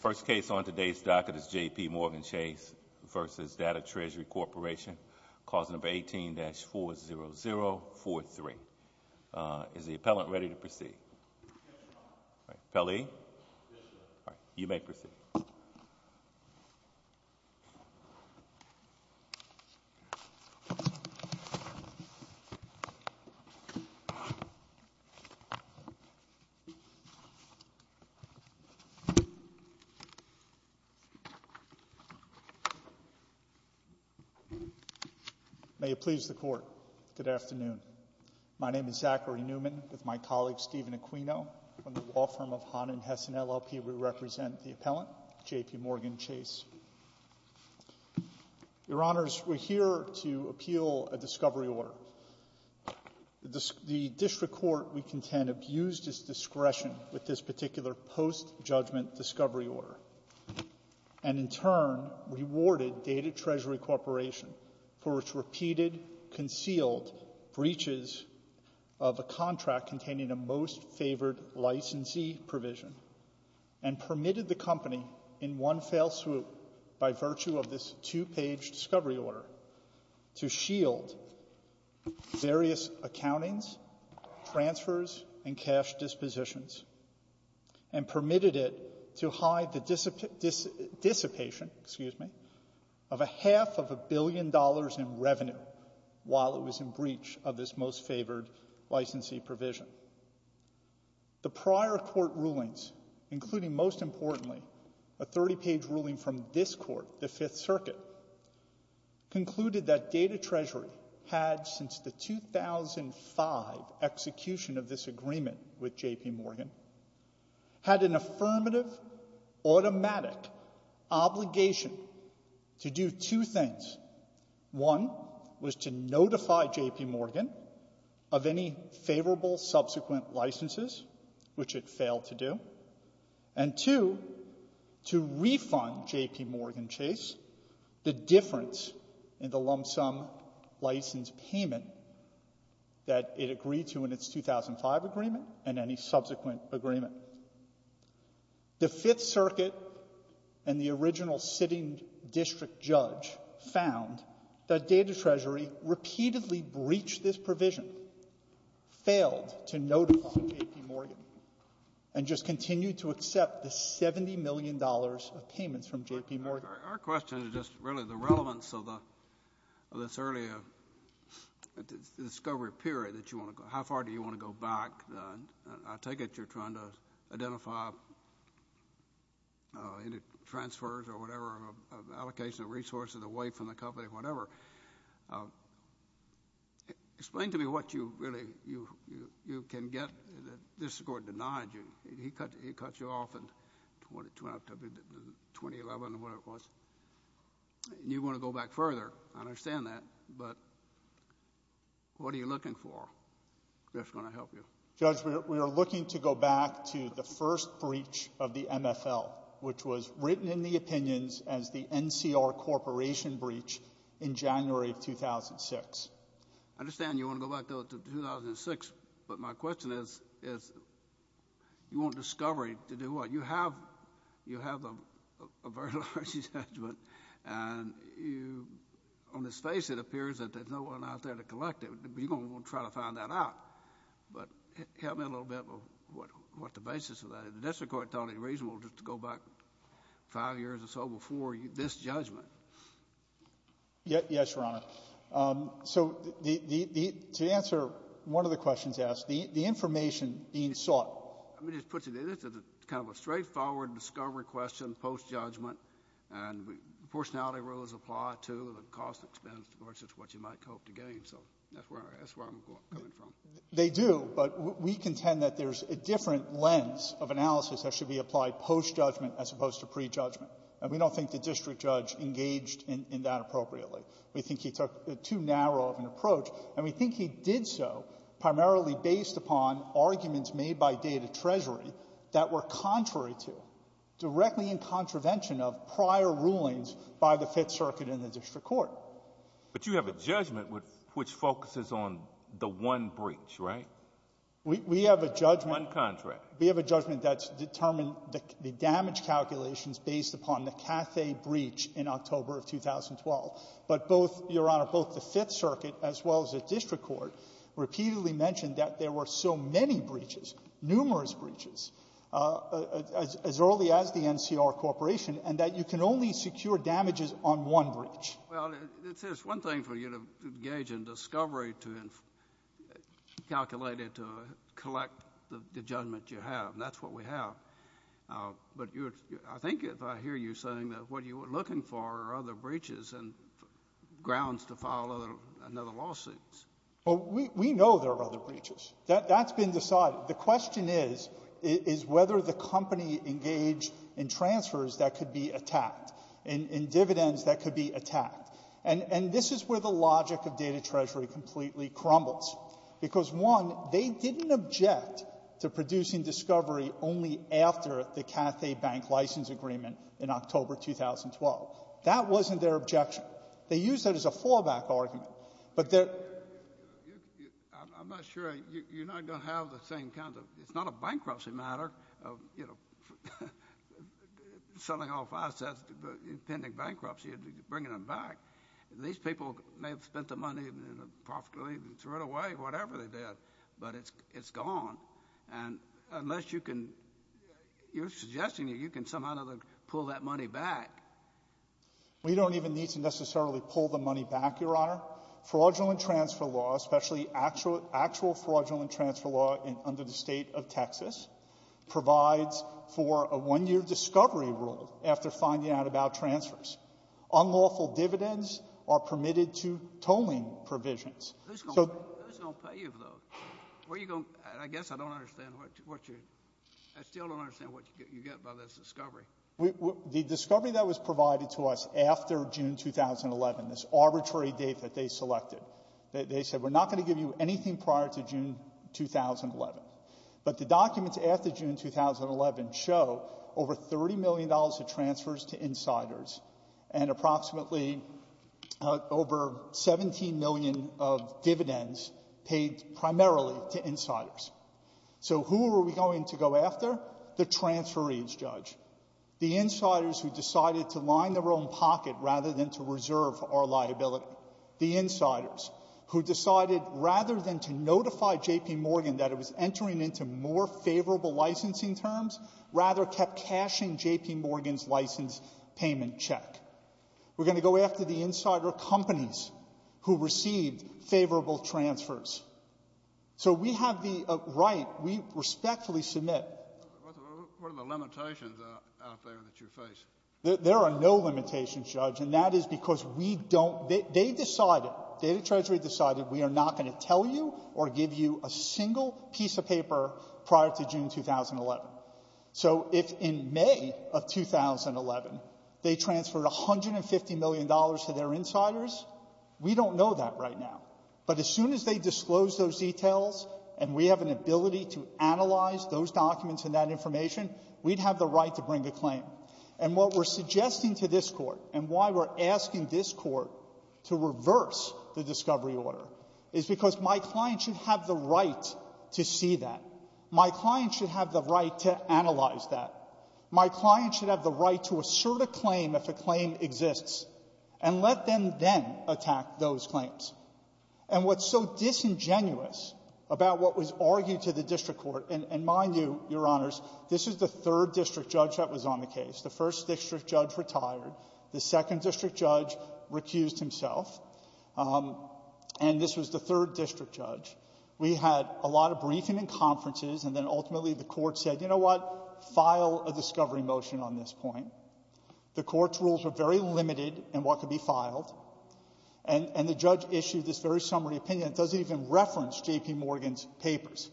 First case on today's docket is J.P. Morgan Chase v. Datatresury Corporation, cause number 18-40043. Is the appellant ready to proceed? Yes, Your Honor. Appellee? Yes, Your Honor. You may proceed. May it please the Court, good afternoon. My name is Zachary Newman with my colleague Stephen Aquino. On the law firm of Hahn & Hessen LLP, we represent the appellant, J.P. Morgan Chase. Your Honors, we're here to appeal a discovery order. The district court we contend abused its discretion with this particular post-judgment discovery order, and in turn rewarded Datatresury Corporation for its repeated concealed breaches of a contract containing a most-favored licensee provision, and permitted the company in one fell swoop, by virtue of this two-page discovery order, to shield various accountings, transfers, and cash dispositions, and permitted it to hide the dissipation of a half of a billion dollars in revenue while it was in breach of this most-favored licensee provision. The prior court rulings, including, most importantly, a 30-page ruling from this Court, the Fifth Circuit, concluded that Datatresury had, since the 2005 execution of this agreement with J.P. Morgan, had an affirmative, automatic obligation to do two things. One was to notify J.P. Morgan of any favorable subsequent licenses, which it failed to do, and two, to refund J.P. Morgan Chase the difference in the lump-sum license payment that it agreed to in its 2005 agreement and any subsequent agreement. The Fifth Circuit and the original sitting district judge found that Datatresury repeatedly breached this provision, failed to notify J.P. Morgan, and just continued to accept the $70 million of payments from J.P. Morgan. Our question is just, really, the relevance of this earlier discovery period that you want to go. How far do you want to go back? I take it you're trying to identify transfers or whatever, allocation of resources away from the company, whatever. Explain to me what you really... you can get. This Court denied you. It cuts you off in 2011 or whatever it was. You want to go back further. I understand that, but what are you looking for that's going to help you? Judge, we are looking to go back to the first breach of the MFL, which was written in the opinions as the NCR Corporation breach in January of 2006. I understand you want to go back, though, to 2006, but my question is, is you want discovery to do what? You have a very large judgment, and you — on his face, it appears that there's no one out there to collect it. We're going to try to find that out. But help me a little bit with what the basis of that is. The district court thought it reasonable just to go back 5 years or so before this judgment. Yes, Your Honor. So the — to answer one of the questions asked, the information being sought. Let me just put it this way. It's kind of a straightforward discovery question post-judgment, and proportionality rules apply to the cost expense versus what you might hope to gain. So that's where I'm coming from. They do, but we contend that there's a different lens of analysis that should be applied post-judgment as opposed to pre-judgment. And we don't think the district judge engaged in — in that appropriately. We think he took too narrow of an approach, and we think he did so primarily based upon arguments made by Data Treasury that were contrary to, directly in contravention of, prior rulings by the Fifth Circuit and the district court. But you have a judgment which focuses on the one breach, right? We have a judgment. One contract. We have a judgment that's determined the damage calculations based upon the Cathay breach in October of 2012. But both — Your Honor, both the Fifth Circuit as well as the district court repeatedly mentioned that there were so many breaches, numerous breaches, as early as the NCR corporation, and that you can only secure damages on one breach. Well, it's just one thing for you to engage in discovery to calculate it, to collect the judgment you have. And that's what we have. But you're — I think if I hear you saying that what you were looking for are other breaches and grounds to file another lawsuit. Well, we know there are other breaches. That's been decided. The question is, is whether the company engaged in transfers that could be attacked, in dividends that could be attacked. And this is where the logic of Data Treasury completely crumbles. Because, one, they didn't object to producing discovery only after the Cathay bank license agreement in October 2012. That wasn't their objection. They used that as a fallback argument. But their — I'm not sure — you're not going to have the same kind of — it's not a bankruptcy matter of, you know, selling off assets, pending bankruptcy, bringing them back. These people may have spent the money profitably and threw it away, whatever they did. But it's gone. And unless you can — you're suggesting that you can somehow pull that money back. We don't even need to necessarily pull the money back, Your Honor. Fraudulent transfer law, especially actual fraudulent transfer law under the state of Texas, provides for a one-year discovery rule after finding out about transfers. Unlawful dividends are permitted to tolling provisions. Who's going to pay you for those? Where are you going — I guess I don't understand what you're — I still don't understand what you get by this discovery. The discovery that was provided to us after June 2011, this arbitrary date that they selected, they said, we're not going to give you anything prior to June 2011. But the documents after June 2011 show over $30 million of transfers to insiders and approximately over $17 million of dividends paid primarily to insiders. So who are we going to go after? The transferees, Judge. The insiders who decided to line their own pocket rather than to reserve our liability. The insiders who decided rather than to notify J.P. Morgan that it was entering into more favorable licensing terms, rather kept cashing J.P. Morgan's license payment check. We're going to go after the insider companies who received favorable transfers. So we have the right — we respectfully submit — What are the limitations out there that you face? There are no limitations, Judge. And that is because we don't — they decided, Data Treasury decided, we are not going to tell you or give you a single piece of paper prior to June 2011. So if in May of 2011, they transferred $150 million to their insiders, we don't know that right now. But as soon as they disclose those details and we have an ability to analyze those documents and that information, we'd have the right to bring a claim. And what we're suggesting to this Court and why we're asking this Court to reverse the discovery order is because my client should have the right to see that. My client should have the right to analyze that. My client should have the right to assert a claim if a claim exists and let them then attack those claims. And what's so disingenuous about what was argued to the district court — and mind you, Your Honors, this is the third district judge that was on the case. The first district judge retired. The second district judge recused himself. And this was the third district judge. We had a lot of briefing and conferences, and then ultimately the Court said, you know what, file a discovery motion on this point. The Court's rules were very limited in what could be filed. And the judge issued this very summary opinion. It doesn't even reference J.P. Morgan's papers.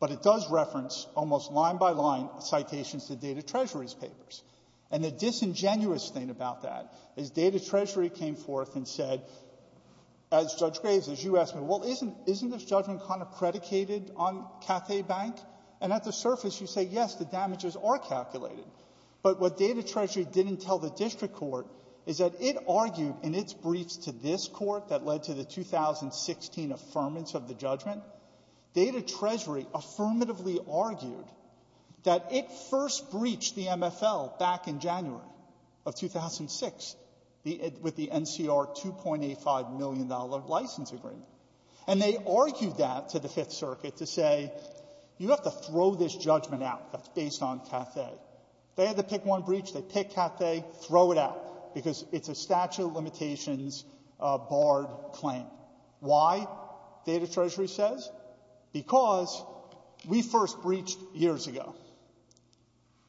But it does reference, almost line by line, citations to Data Treasury's papers. And the disingenuous thing about that is Data Treasury came forth and said, as Judge Graves, as you asked me, well, isn't this judgment kind of predicated on Cathay Bank? And at the surface, you say, yes, the damages are calculated. But what Data Treasury didn't tell the district court is that it argued in its briefs to this Court that led to the 2016 affirmance of the judgment, Data Treasury affirmatively argued that it first breached the MFL back in January of 2006 with the NCR $2.85 million license agreement. And they argued that to the Fifth Circuit to say, you have to throw this judgment out that's based on Cathay. They had to pick one breach. They pick Cathay, throw it out, because it's a statute of limitations barred claim. Why, Data Treasury says? Because we first breached years ago.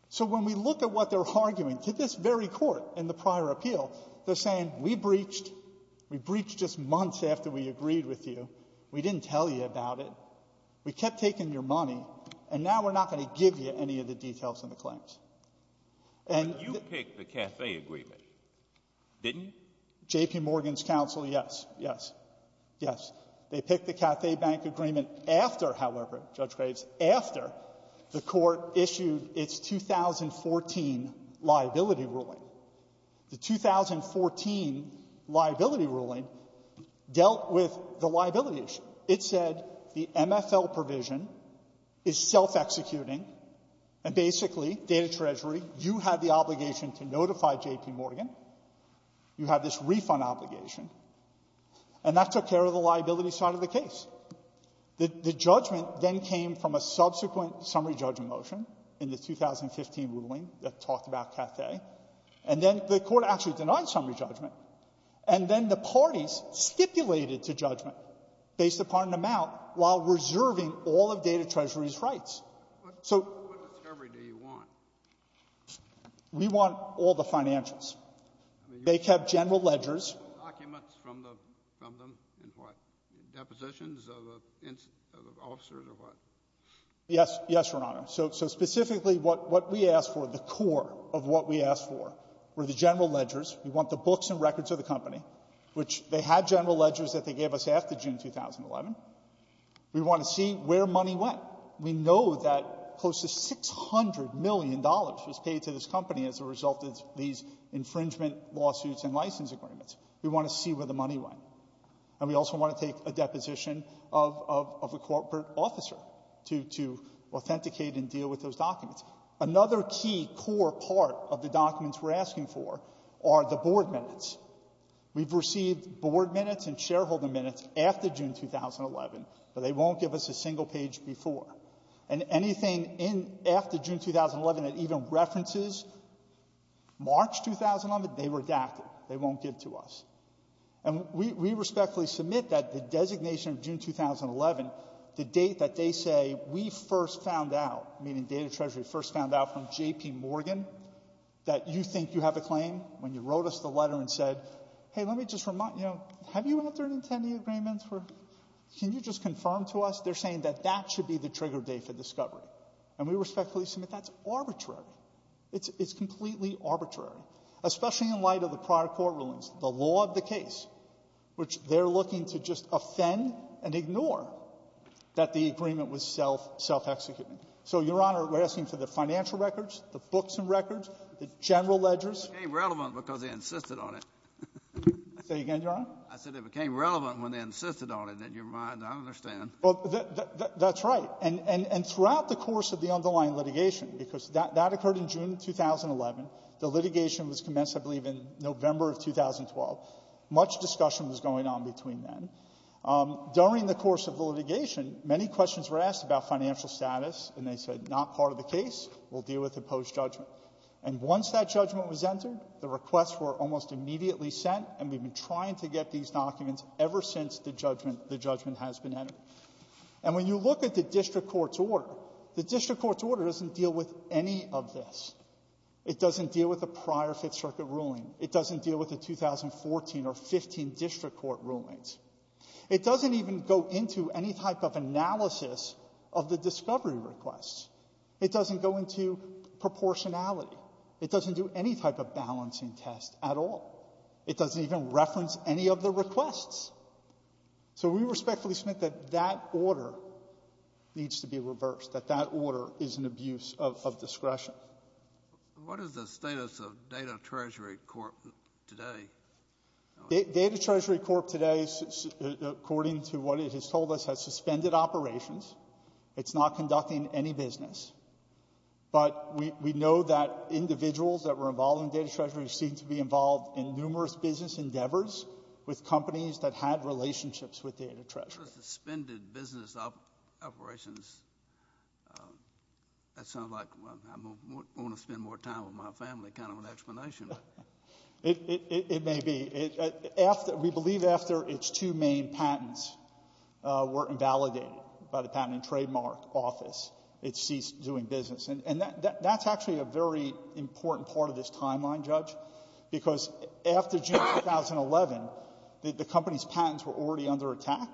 So when we look at what they're arguing, to this very court in the prior appeal, they're saying, we breached. We breached just months after we agreed with you. We didn't tell you about it. We kept taking your money. And now we're not going to give you any of the details of the claims. And the — But you picked the Cathay agreement, didn't you? J.P. Morgan's counsel, yes. Yes. Yes. They picked the Cathay bank agreement after, however, Judge Graves, after the court issued its 2014 liability ruling. The 2014 liability ruling dealt with the liability issue. It said the MFL provision is self-executing. And basically, Data Treasury, you have the obligation to notify J.P. Morgan. You have this refund obligation. And that took care of the liability side of the case. The judgment then came from a subsequent summary judgment motion in the 2015 ruling that talked about Cathay. And then the court actually denied summary judgment. And then the parties stipulated to judgment, based upon an amount, while reserving all of Data Treasury's rights. So — What discovery do you want? We want all the financials. They kept general ledgers. Documents from the — from them and what? Depositions of officers or what? Yes. Yes, Your Honor. So — so specifically, what — what we asked for, the core of what we asked for, were the general ledgers. We want the books and records of the company, which they had general ledgers that they gave us after June 2011. We want to see where money went. We know that close to $600 million was paid to this company as a result of these infringement lawsuits and license agreements. We want to see where the money went. And we also want to take a deposition of — of a corporate officer to — to authenticate and deal with those documents. Another key core part of the documents we're asking for are the board minutes. We've received board minutes and shareholder minutes after June 2011, but they won't give us a single page before. And anything in — after June 2011 that even references March 2011, they redacted. They won't give to us. And we respectfully submit that the designation of June 2011, the date that they say, we first found out, meaning Data Treasury first found out from J.P. Morgan, that you think you have a claim, when you wrote us the letter and said, hey, let me just remind you, have you entered into any agreements for — can you just confirm to us? They're saying that that should be the trigger date for discovery. And we respectfully submit that's arbitrary. It's — it's completely arbitrary, especially in light of the prior court rulings, the law of the case, which they're looking to just offend and ignore that the agreement was self — self-executing. So, Your Honor, we're asking for the financial records, the books and records, the general ledgers. It became relevant because they insisted on it. Say again, Your Honor? I said it became relevant when they insisted on it. In your mind, I don't understand. Well, that's right. And — and throughout the course of the underlying litigation, because that occurred in June 2011, the litigation was commenced, I believe, in November of 2012. Much discussion was going on between then. During the course of the litigation, many questions were asked about financial status, and they said not part of the case. We'll deal with it post-judgment. And once that judgment was entered, the requests were almost immediately sent, and we've been trying to get these documents ever since the judgment — the judgment has been entered. And when you look at the district court's order, the district court's order doesn't deal with any of this. It doesn't deal with the prior Fifth Circuit ruling. It doesn't deal with the 2014 or 15 district court rulings. It doesn't even go into any type of analysis of the discovery requests. It doesn't go into proportionality. It doesn't do any type of balancing test at all. It doesn't even reference any of the requests. So we respectfully submit that that order needs to be reversed, that that order is an abuse of discretion. What is the status of Data Treasury Corp. today? Data Treasury Corp. today, according to what it has told us, has suspended operations. It's not conducting any business. But we know that individuals that were involved in Data Treasury seem to be involved in numerous business endeavors with companies that had relationships with Data Treasury. Suspended business operations? That sounds like, well, I'm going to spend more time with my family kind of an explanation. It may be. We believe after its two main patents were invalidated by the Patent and Trademark Office, it ceased doing business. And that's actually a very important part of this timeline, Judge, because after June 2011, the company's patents were already under attack,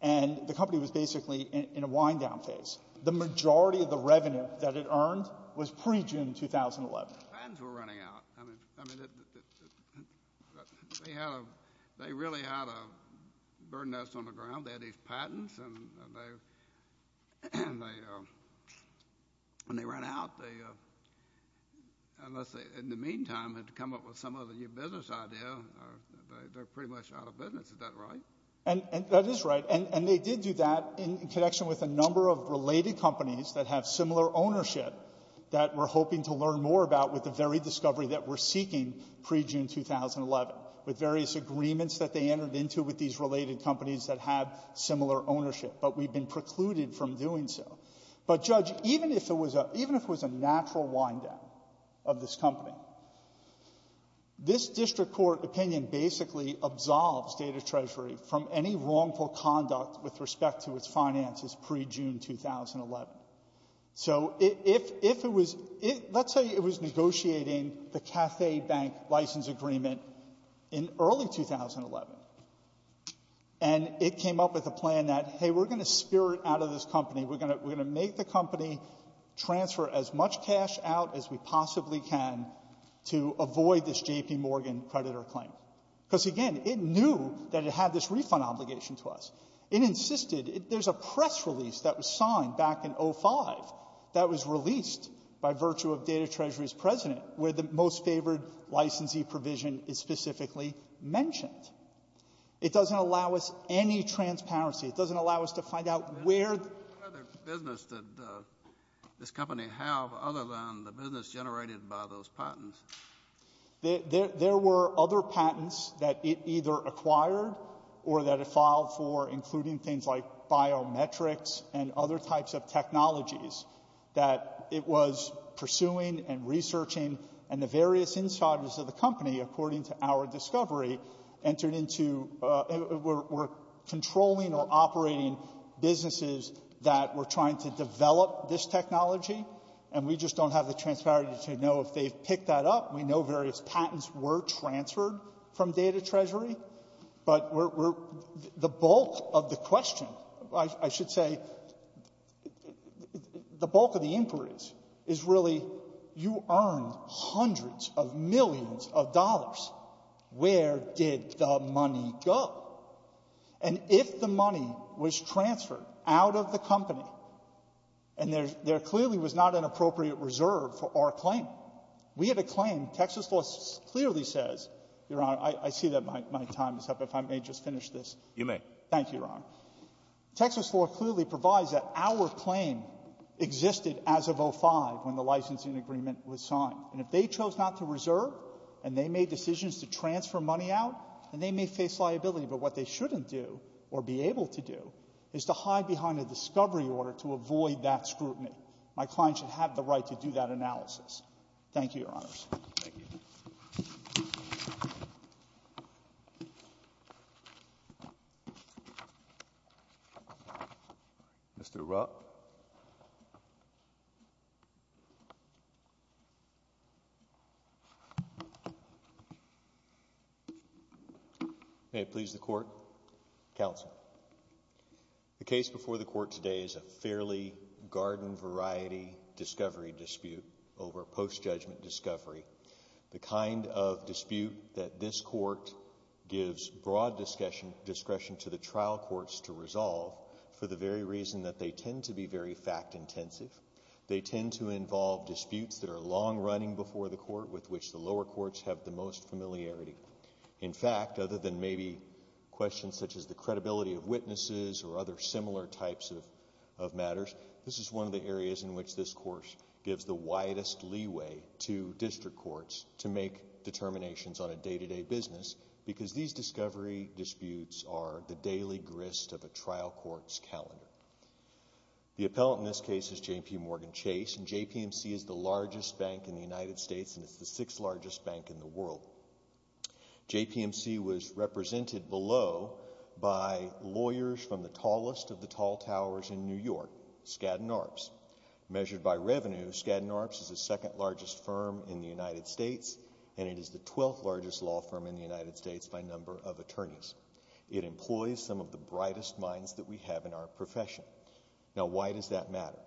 and the company was basically in a wind-down phase. The majority of the revenue that it earned was pre-June 2011. The patents were running out. I mean, they had a — they really had a bird's nest on the ground. They had these patents, and they — when they ran out, they — unless they, in the meantime, had to come up with some other new business idea, they're pretty much out of business. Is that right? And that is right. And they did do that in connection with a number of related companies that have similar ownership that we're hoping to learn more about with the very discovery that we're seeking pre-June 2011, with various agreements that they entered into with these related companies that have similar ownership, but we've been precluded from doing so. But, Judge, even if it was a — even if it was a natural wind-down of this company, this district court opinion basically absolves Data Treasury from any wrongful conduct with respect to its finances pre-June 2011. So if — if it was — let's say it was negotiating the Cathay Bank license agreement in early 2011, and it came up with a plan that, hey, we're going to spirit out of this company, we're going to — we're going to make the company transfer as much cash out as we possibly can to avoid this J.P. Morgan creditor claim, because, again, it knew that it had this refund obligation to us. It insisted — there's a press release that was signed back in 05 that was released by It doesn't allow us any transparency. It doesn't allow us to find out where — What other business did this company have, other than the business generated by those patents? There were other patents that it either acquired or that it filed for, including things like biometrics and other types of technologies that it was pursuing and researching, and the various insiders of the company, according to our discovery, entered into — were controlling or operating businesses that were trying to develop this technology, and we just don't have the transparency to know if they've picked that up. We know various patents were transferred from Data Treasury, but we're — the bulk of the question, I should say — the bulk of the inquiry is, is really, you earned hundreds of millions of dollars. Where did the money go? And if the money was transferred out of the company, and there clearly was not an appropriate reserve for our claim, we have a claim. Texas law clearly says — Your Honor, I see that my time is up. If I may just finish this. You may. Thank you, Your Honor. Texas law clearly provides that our claim existed as of 05, when the licensing agreement was signed, and if they chose not to reserve, and they made decisions to transfer money out, then they may face liability. But what they shouldn't do, or be able to do, is to hide behind a discovery order to avoid that scrutiny. My client should have the right to do that analysis. Thank you, Your Honors. Thank you. Mr. Rupp. May it please the Court, counsel. The case before the Court today is a fairly garden-variety discovery dispute over post-judgment discovery, the kind of dispute that this Court gives broad discretion to the trial courts to resolve for the very reason that they tend to be very fact-intensive. They tend to involve disputes that are long-running before the Court, with which the lower courts have the most familiarity. In fact, other than maybe questions such as the credibility of witnesses or other similar types of matters, this is one of the areas in which this Court gives the widest leeway to district courts to make determinations on a day-to-day business, because these discovery disputes are the daily grist of a trial court's calendar. The appellant in this case is J.P. Morgan Chase, and JPMC is the largest bank in the United States, and it's the sixth-largest bank in the world. JPMC was represented below by lawyers from the tallest of the tall towers in New York, Skadden Arps. Measured by revenue, Skadden Arps is the second-largest firm in the United States, and it is the twelfth-largest law firm in the United States by number of attorneys. It employs some of the brightest minds that we have in our profession. Now why does that matter?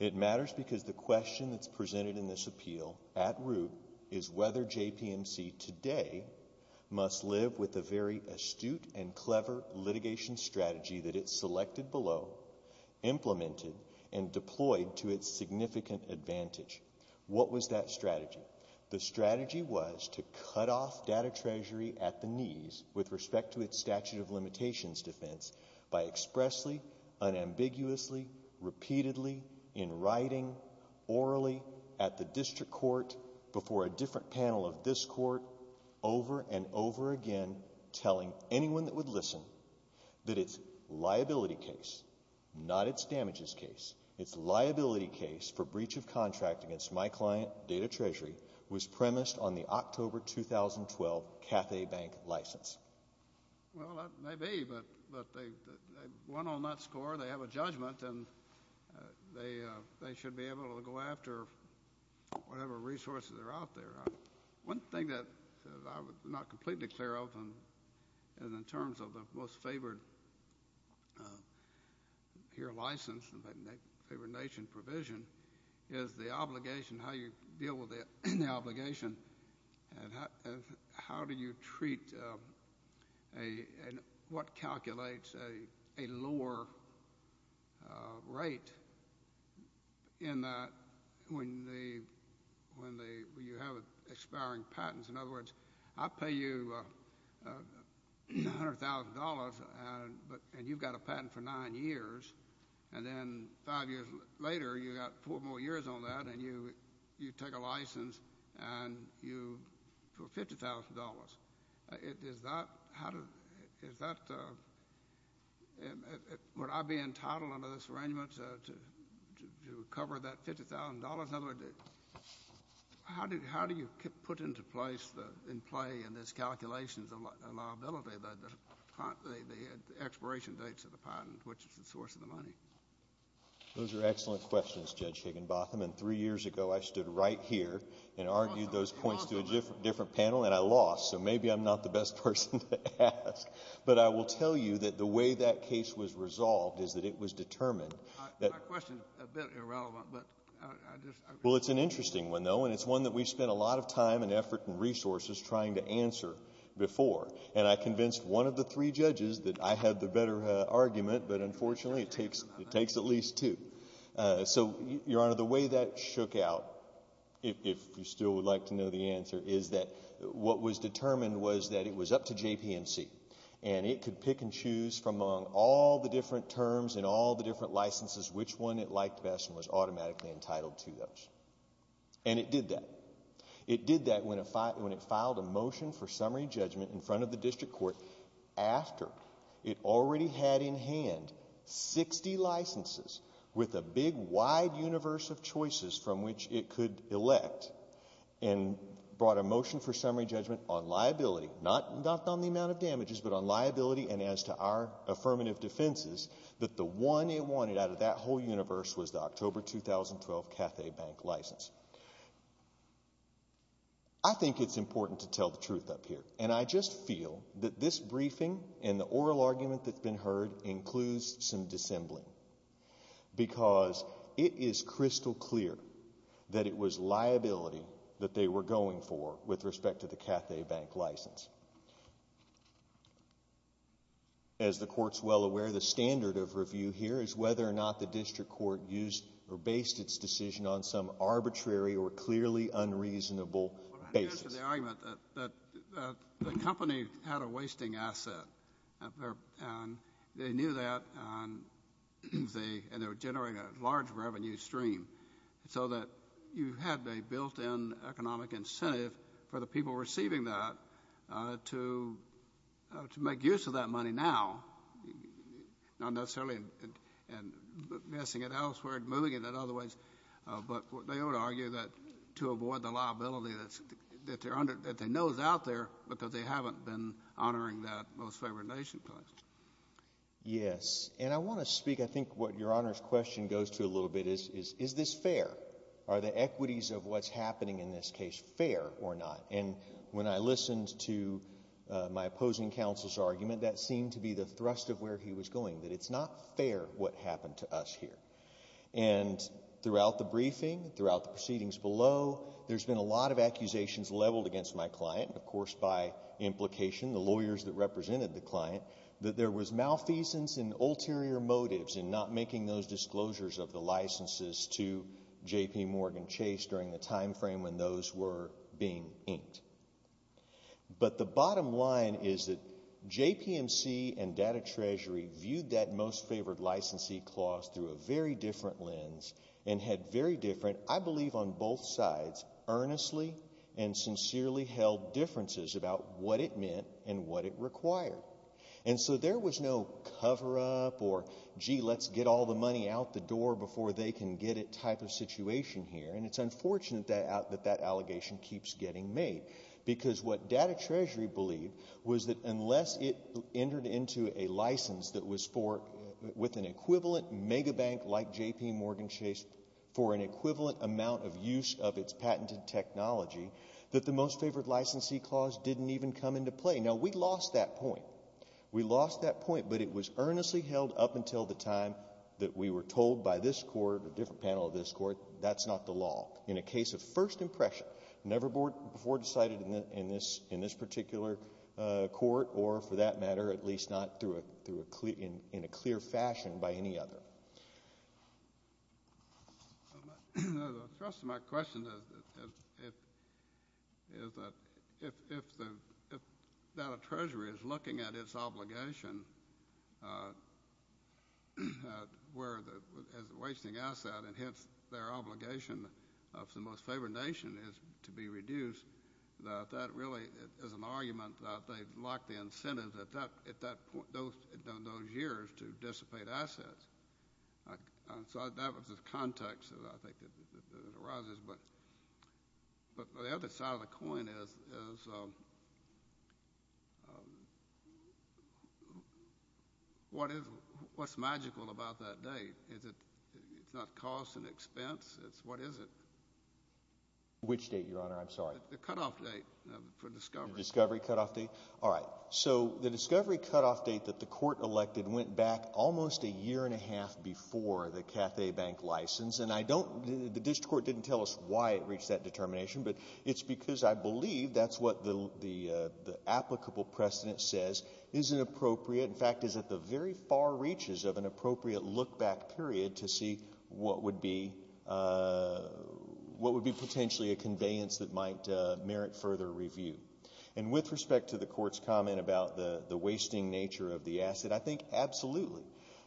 It matters because the question that's presented in this appeal, at root, is whether JPMC today must live with the very astute and clever litigation strategy that it selected below, implemented, and deployed to its significant advantage. What was that strategy? The strategy was to cut off Data Treasury at the knees with respect to its statute of limitations defense by expressly, unambiguously, repeatedly, in writing, orally, at the district court, before a different panel of this court, over and over again, telling anyone that would listen that its liability case, not its damages case, its liability case for breach of contract against my client, Data Treasury, was premised on the October 2012 CAFE Bank license. Well, that may be, but they won on that score. They have a judgment, and they should be able to go after whatever resources are out there. One thing that I'm not completely clear of, and in terms of the most favored here license and favored nation provision, is the obligation, how you deal with the obligation, and how do you treat, and what calculates a lower rate in that, when you have expiring patents? In other words, I pay you $100,000, and you've got a patent for nine years, and then five years later, you've got four more years on that, and you take a license for $50,000. Is that what I'd be entitled under this arrangement, to recover that $50,000? In other words, how do you put into place, in play, in this calculations, a liability that the expiration dates of the patent, which is the source of the money? Those are excellent questions, Judge Higginbotham, and three years ago, I stood right here and argued those points to a different panel, and I lost, so maybe I'm not the best person to ask. But I will tell you that the way that case was resolved is that it was determined that Well, it's an interesting one, though, and it's one that we've spent a lot of time and effort and resources trying to answer before, and I convinced one of the three judges that I had the better argument, but unfortunately, it takes at least two. So Your Honor, the way that shook out, if you still would like to know the answer, is that what was determined was that it was up to JPMC, and it could pick and choose from all the different terms and all the different licenses which one it liked best and was automatically entitled to those. And it did that. It did that when it filed a motion for summary judgment in front of the district court after it already had in hand 60 licenses with a big, wide universe of choices from which it could elect and brought a motion for summary judgment on liability, not on the amount of affirmative defenses, that the one it wanted out of that whole universe was the October 2012 Cathay Bank license. I think it's important to tell the truth up here, and I just feel that this briefing and the oral argument that's been heard includes some dissembling, because it is crystal clear that it was liability that they were going for with respect to the Cathay Bank license. As the Court's well aware, the standard of review here is whether or not the district court used or based its decision on some arbitrary or clearly unreasonable basis. Well, I'm going to answer the argument that the company had a wasting asset, and they knew that, and they were generating a large revenue stream, so that you had a built-in economic incentive for the people receiving that to make use of that money now, not necessarily in investing it elsewhere and moving it in other ways, but they would argue that to avoid the liability that they know is out there, but that they haven't been honoring that Most Favored Nation Clause. Yes, and I want to speak, I think what Your Honor's question goes to a little bit is, is this fair? Are the equities of what's happening in this case fair or not? And when I listened to my opposing counsel's argument, that seemed to be the thrust of where he was going, that it's not fair what happened to us here. And throughout the briefing, throughout the proceedings below, there's been a lot of accusations leveled against my client, of course by implication, the lawyers that represented the client, that there was malfeasance and ulterior motives in not making those disclosures of the licenses to JPMorgan Chase during the time frame when those were being inked. But the bottom line is that JPMC and Data Treasury viewed that Most Favored Licensee Clause through a very different lens and had very different, I believe on both sides, earnestly and sincerely held differences about what it meant and what it required. And so there was no cover-up or, gee, let's get all the money out the door before they can get it type of situation here. And it's unfortunate that that allegation keeps getting made, because what Data Treasury believed was that unless it entered into a license that was for, with an equivalent megabank like JPMorgan Chase for an equivalent amount of use of its patented technology, that the Most Favored Licensee Clause didn't even come into play. Now, we lost that point. We lost that point, but it was earnestly held up until the time that we were told by this Court, a different panel of this Court, that's not the law. In a case of first impression, never before decided in this particular court or, for that matter, at least not in a clear fashion by any other. The thrust of my question is that if Data Treasury is looking at its obligation, where as a wasting asset, and hence their obligation of the Most Favored Nation is to be reduced, that that really is an argument that they've locked the incentive at that point, those years, to dissipate assets. So that was the context that I think that arises, but the other side of the coin is what is, what's magical about that date? Is it, it's not cost and expense, it's what is it? Which date, Your Honor? I'm sorry. The cutoff date for discovery. The discovery cutoff date? All right. All right. So the discovery cutoff date that the Court elected went back almost a year and a half before the Cathay Bank license, and I don't, the district court didn't tell us why it reached that determination, but it's because I believe that's what the applicable precedent says is an appropriate, in fact, is at the very far reaches of an appropriate look-back period to see what would be, what would be potentially a conveyance that might merit further review. And with respect to the Court's comment about the wasting nature of the asset, I think absolutely.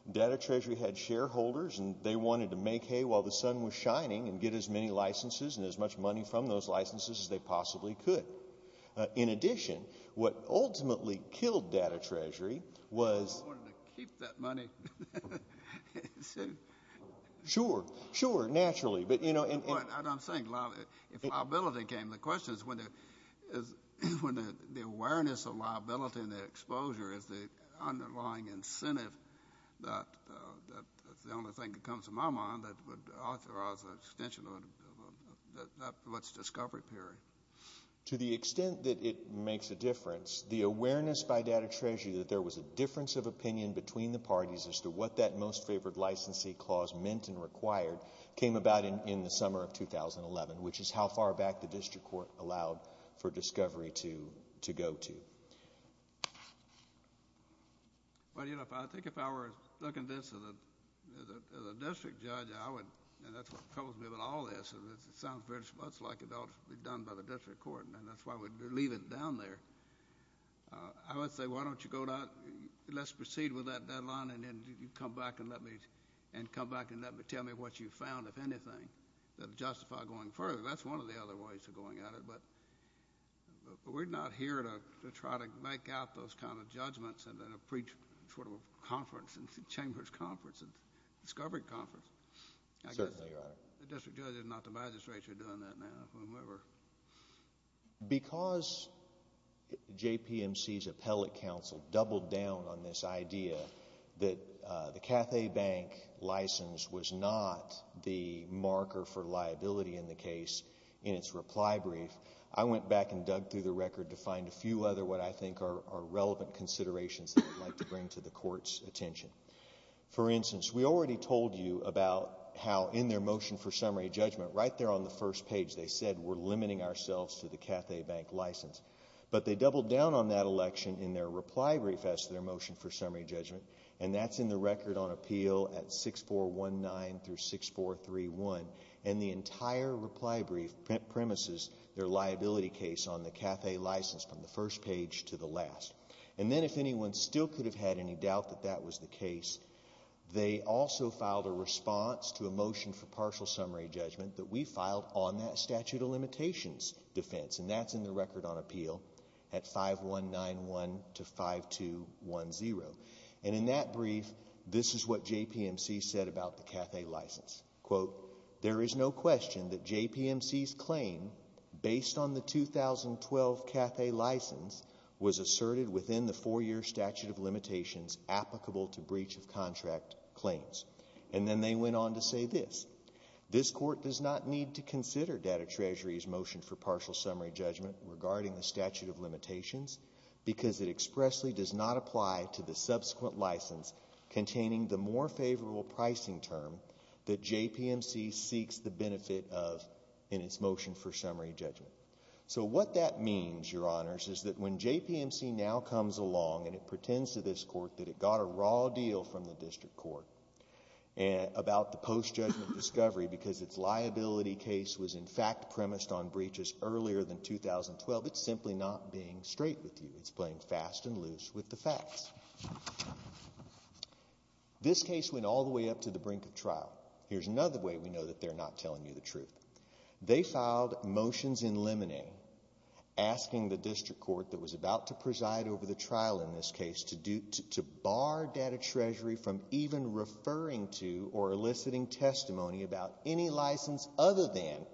Data Treasury had shareholders, and they wanted to make hay while the sun was shining and get as many licenses and as much money from those licenses as they possibly could. In addition, what ultimately killed Data Treasury was- I wanted to keep that money. Sure. Sure, naturally, but you know- I'm saying, if liability came, the question is when the awareness of liability and the exposure is the underlying incentive that, that's the only thing that comes to my mind that would authorize the extension of what's discovery period. To the extent that it makes a difference, the awareness by Data Treasury that there was a difference of opinion between the parties as to what that most favored licensee clause meant and required came about in the summer of 2011, which is how far back the District Court allowed for discovery to go to. Well, you know, I think if I were looking at this as a District Judge, I would, and that's what troubles me about all this, it sounds very much like it ought to be done by the District Court, and that's why we leave it down there. I would say, why don't you go down, let's proceed with that deadline, and then you come back and let me, and come back and tell me what you found, if anything, that would justify going further. That's one of the other ways of going at it, but we're not here to try to make out those kind of judgments in a pre-conference, in Chambers Conference, in Discovery Conference. Certainly, Your Honor. I guess the District Judge is not the magistrate, you're doing that now, or whomever. Because JPMC's appellate counsel doubled down on this idea that the Cathay Bank license was not the marker for liability in the case in its reply brief, I went back and dug through the record to find a few other what I think are relevant considerations that I'd like to bring to the Court's attention. For instance, we already told you about how in their motion for summary judgment, right there on the first page, they said, we're limiting ourselves to the Cathay Bank license. But they doubled down on that election in their reply brief as to their motion for summary judgment, and that's in the record on appeal at 6419-6431, and the entire reply brief premises their liability case on the Cathay license from the first page to the last. And then if anyone still could have had any doubt that that was the case, they also filed a response to a motion for partial summary judgment that we filed on that statute of limitations defense, and that's in the record on appeal at 5191-5210. And in that brief, this is what JPMC said about the Cathay license, quote, there is no question that JPMC's claim based on the 2012 Cathay license was asserted within the four-year statute of limitations applicable to breach of contract claims. And then they went on to say this, this court does not need to consider Data Treasury's motion for partial summary judgment regarding the statute of limitations because it expressly does not apply to the subsequent license containing the more favorable pricing term that JPMC seeks the benefit of in its motion for summary judgment. So what that means, Your Honors, is that when JPMC now comes along and it pretends to this court about the post-judgment discovery because its liability case was, in fact, premised on breaches earlier than 2012, it's simply not being straight with you. It's playing fast and loose with the facts. This case went all the way up to the brink of trial. Here's another way we know that they're not telling you the truth. They filed motions in limine asking the district court that was about to preside over the trial in this case to bar Data Treasury from even referring to or eliciting testimony about any license other than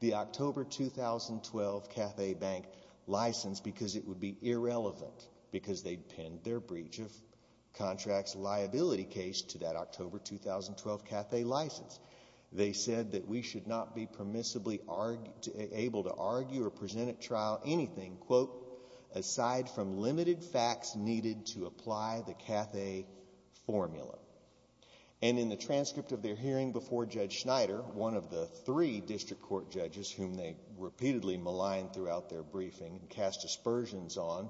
the October 2012 Cathay Bank license because it would be irrelevant because they'd penned their breach of contracts liability case to that October 2012 Cathay license. They said that we should not be permissibly able to argue or present at trial anything, quote, aside from limited facts needed to apply the Cathay formula. And in the transcript of their hearing before Judge Schneider, one of the three district court judges whom they repeatedly maligned throughout their briefing and cast aspersions on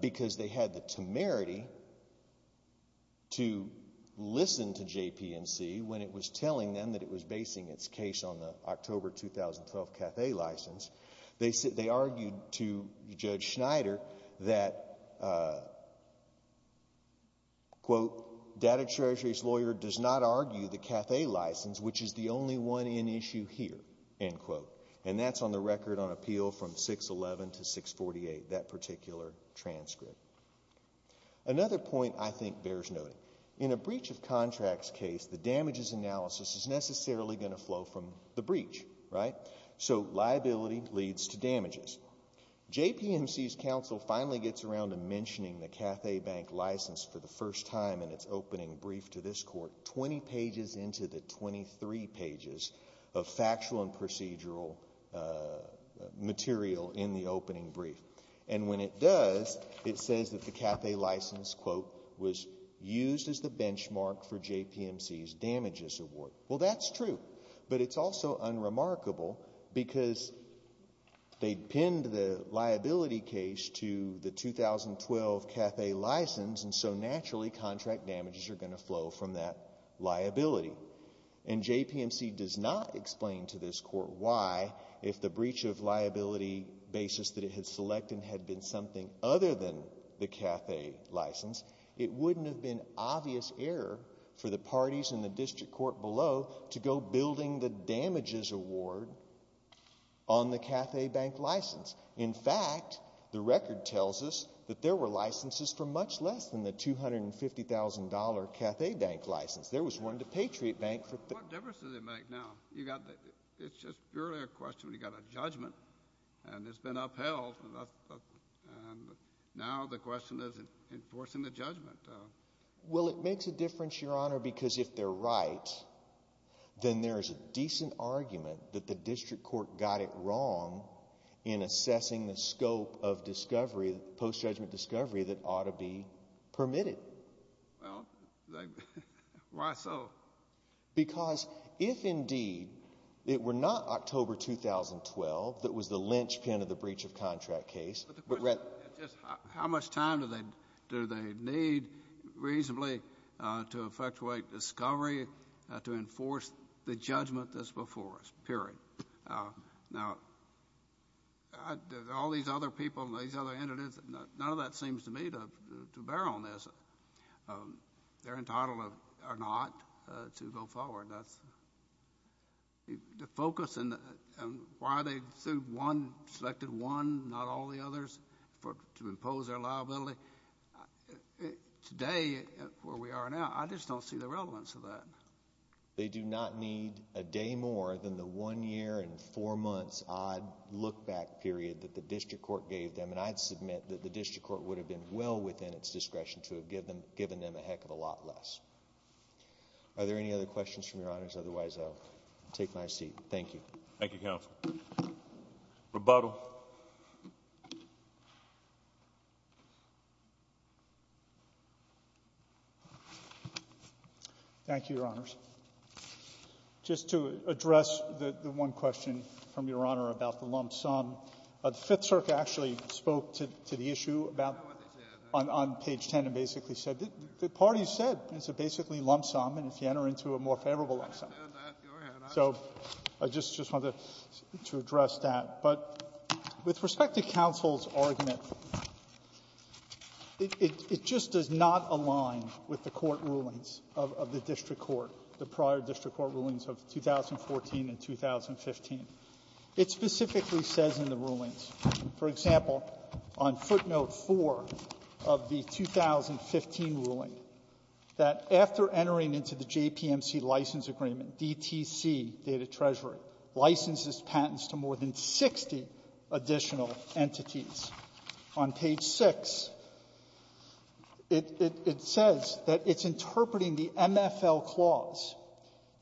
because they had the temerity to listen to JPMC when it was telling them that it was to Judge Schneider that, quote, Data Treasury's lawyer does not argue the Cathay license, which is the only one in issue here, end quote. And that's on the record on appeal from 611 to 648, that particular transcript. Another point I think bears noting. In a breach of contracts case, the damages analysis is necessarily going to flow from the breach, right? So liability leads to damages. JPMC's counsel finally gets around to mentioning the Cathay bank license for the first time in its opening brief to this court, 20 pages into the 23 pages of factual and procedural material in the opening brief. And when it does, it says that the Cathay license, quote, was used as the benchmark for JPMC's damages award. Well, that's true, but it's also unremarkable because they pinned the liability case to the 2012 Cathay license, and so naturally contract damages are going to flow from that liability. And JPMC does not explain to this court why, if the breach of liability basis that it had selected had been something other than the Cathay license, it wouldn't have been obvious error for the parties in the district court below to go building the damages award on the Cathay bank license. In fact, the record tells us that there were licenses for much less than the $250,000 Cathay bank license. There was one to Patriot Bank for — What difference does it make now? You got the — it's just purely a question. You got a judgment, and it's been upheld, and that's — and now the question is enforcing the judgment. Well, it makes a difference, Your Honor, because if they're right, then there's a decent argument that the district court got it wrong in assessing the scope of discovery, post-judgment discovery that ought to be permitted. Well, why so? Because if, indeed, it were not October 2012 that was the linchpin of the breach of contract case — But the question is just how much time do they need reasonably to effectuate discovery, to enforce the judgment that's before us, period? Now, all these other people and these other entities, none of that seems to me to bear on this. They're entitled or not to go forward. That's — the focus and why they sued one, selected one, not all the others, to impose their liability, today where we are now, I just don't see the relevance of that. They do not need a day more than the one year and four months-odd look-back period that the district court gave them, and I'd submit that the district court would have been well within its discretion to have given them a heck of a lot less. Are there any other questions from Your Honors? Otherwise, I'll take my seat. Thank you. Thank you, Counsel. Rebuttal. Thank you, Your Honors. Just to address the one question from Your Honor about the lump sum, the Fifth Circuit actually spoke to the issue about — On page 10. And basically said — the parties said it's a basically lump sum, and if you enter into a more favorable lump sum. So I just — just wanted to address that. But with respect to counsel's argument, it — it just does not align with the court rulings of the district court, the prior district court rulings of 2014 and 2015. It specifically says in the rulings, for example, on footnote 4 of the 2015 ruling, that after entering into the JPMC license agreement, DTC, Data Treasury, licenses patents to more than 60 additional entities. On page 6, it — it says that it's interpreting the MFL clause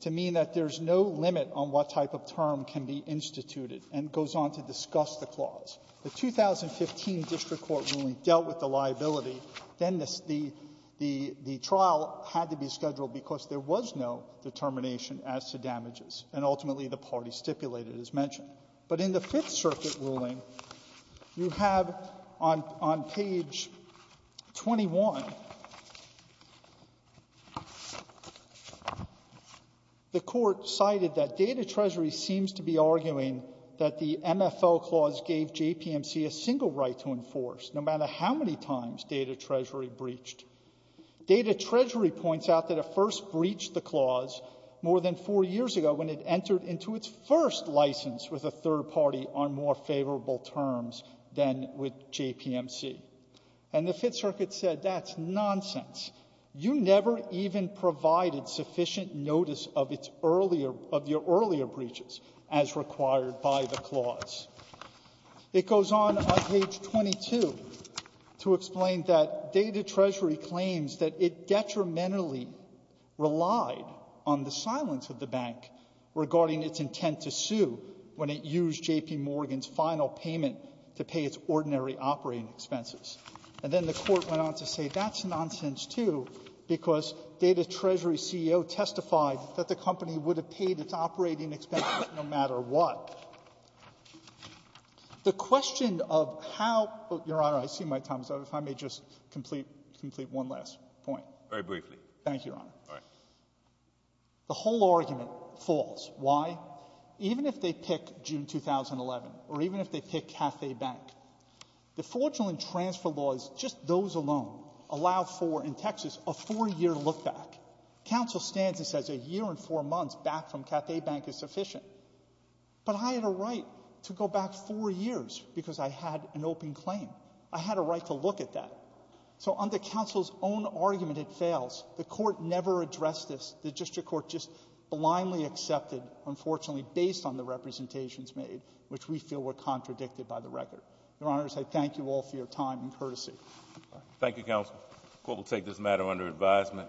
to mean that there's no limit on what type of term can be instituted, and goes on to discuss the clause. The 2015 district court ruling dealt with the liability. Then the — the — the trial had to be scheduled because there was no determination as to damages. And ultimately, the party stipulated, as mentioned. But in the Fifth Circuit ruling, you have on — on page 21, the court cited that Data Treasury seems to be already arguing that the MFL clause gave JPMC a single right to enforce, no matter how many times Data Treasury breached. Data Treasury points out that it first breached the clause more than four years ago, when it entered into its first license with a third party on more favorable terms than with JPMC. And the Fifth Circuit said, that's nonsense. You never even provided sufficient notice of its earlier — of your earlier breaches, as required by the clause. It goes on on page 22 to explain that Data Treasury claims that it detrimentally relied on the silence of the bank regarding its intent to sue when it used J.P. Morgan's final payment to pay its ordinary operating expenses. And then the Court went on to say, that's nonsense, too, because Data Treasury CEO testified that the company would have paid its operating expenses if it had not no matter what. The question of how — Your Honor, I see my time is up. If I may just complete — complete one last point. Very briefly. Thank you, Your Honor. All right. The whole argument falls. Why? Even if they pick June 2011, or even if they pick Cathay Bank, the fraudulent transfer laws, just those alone, allow for, in Texas, a four-year look-back. Counsel stands and says a year and four months back from Cathay Bank is sufficient. But I had a right to go back four years because I had an open claim. I had a right to look at that. So under counsel's own argument, it fails. The Court never addressed this. The district court just blindly accepted, unfortunately, based on the representations made, which we feel were contradicted by the record. Your Honor, I say thank you all for your time and courtesy. Thank you, counsel. The Court will take this matter under advisement.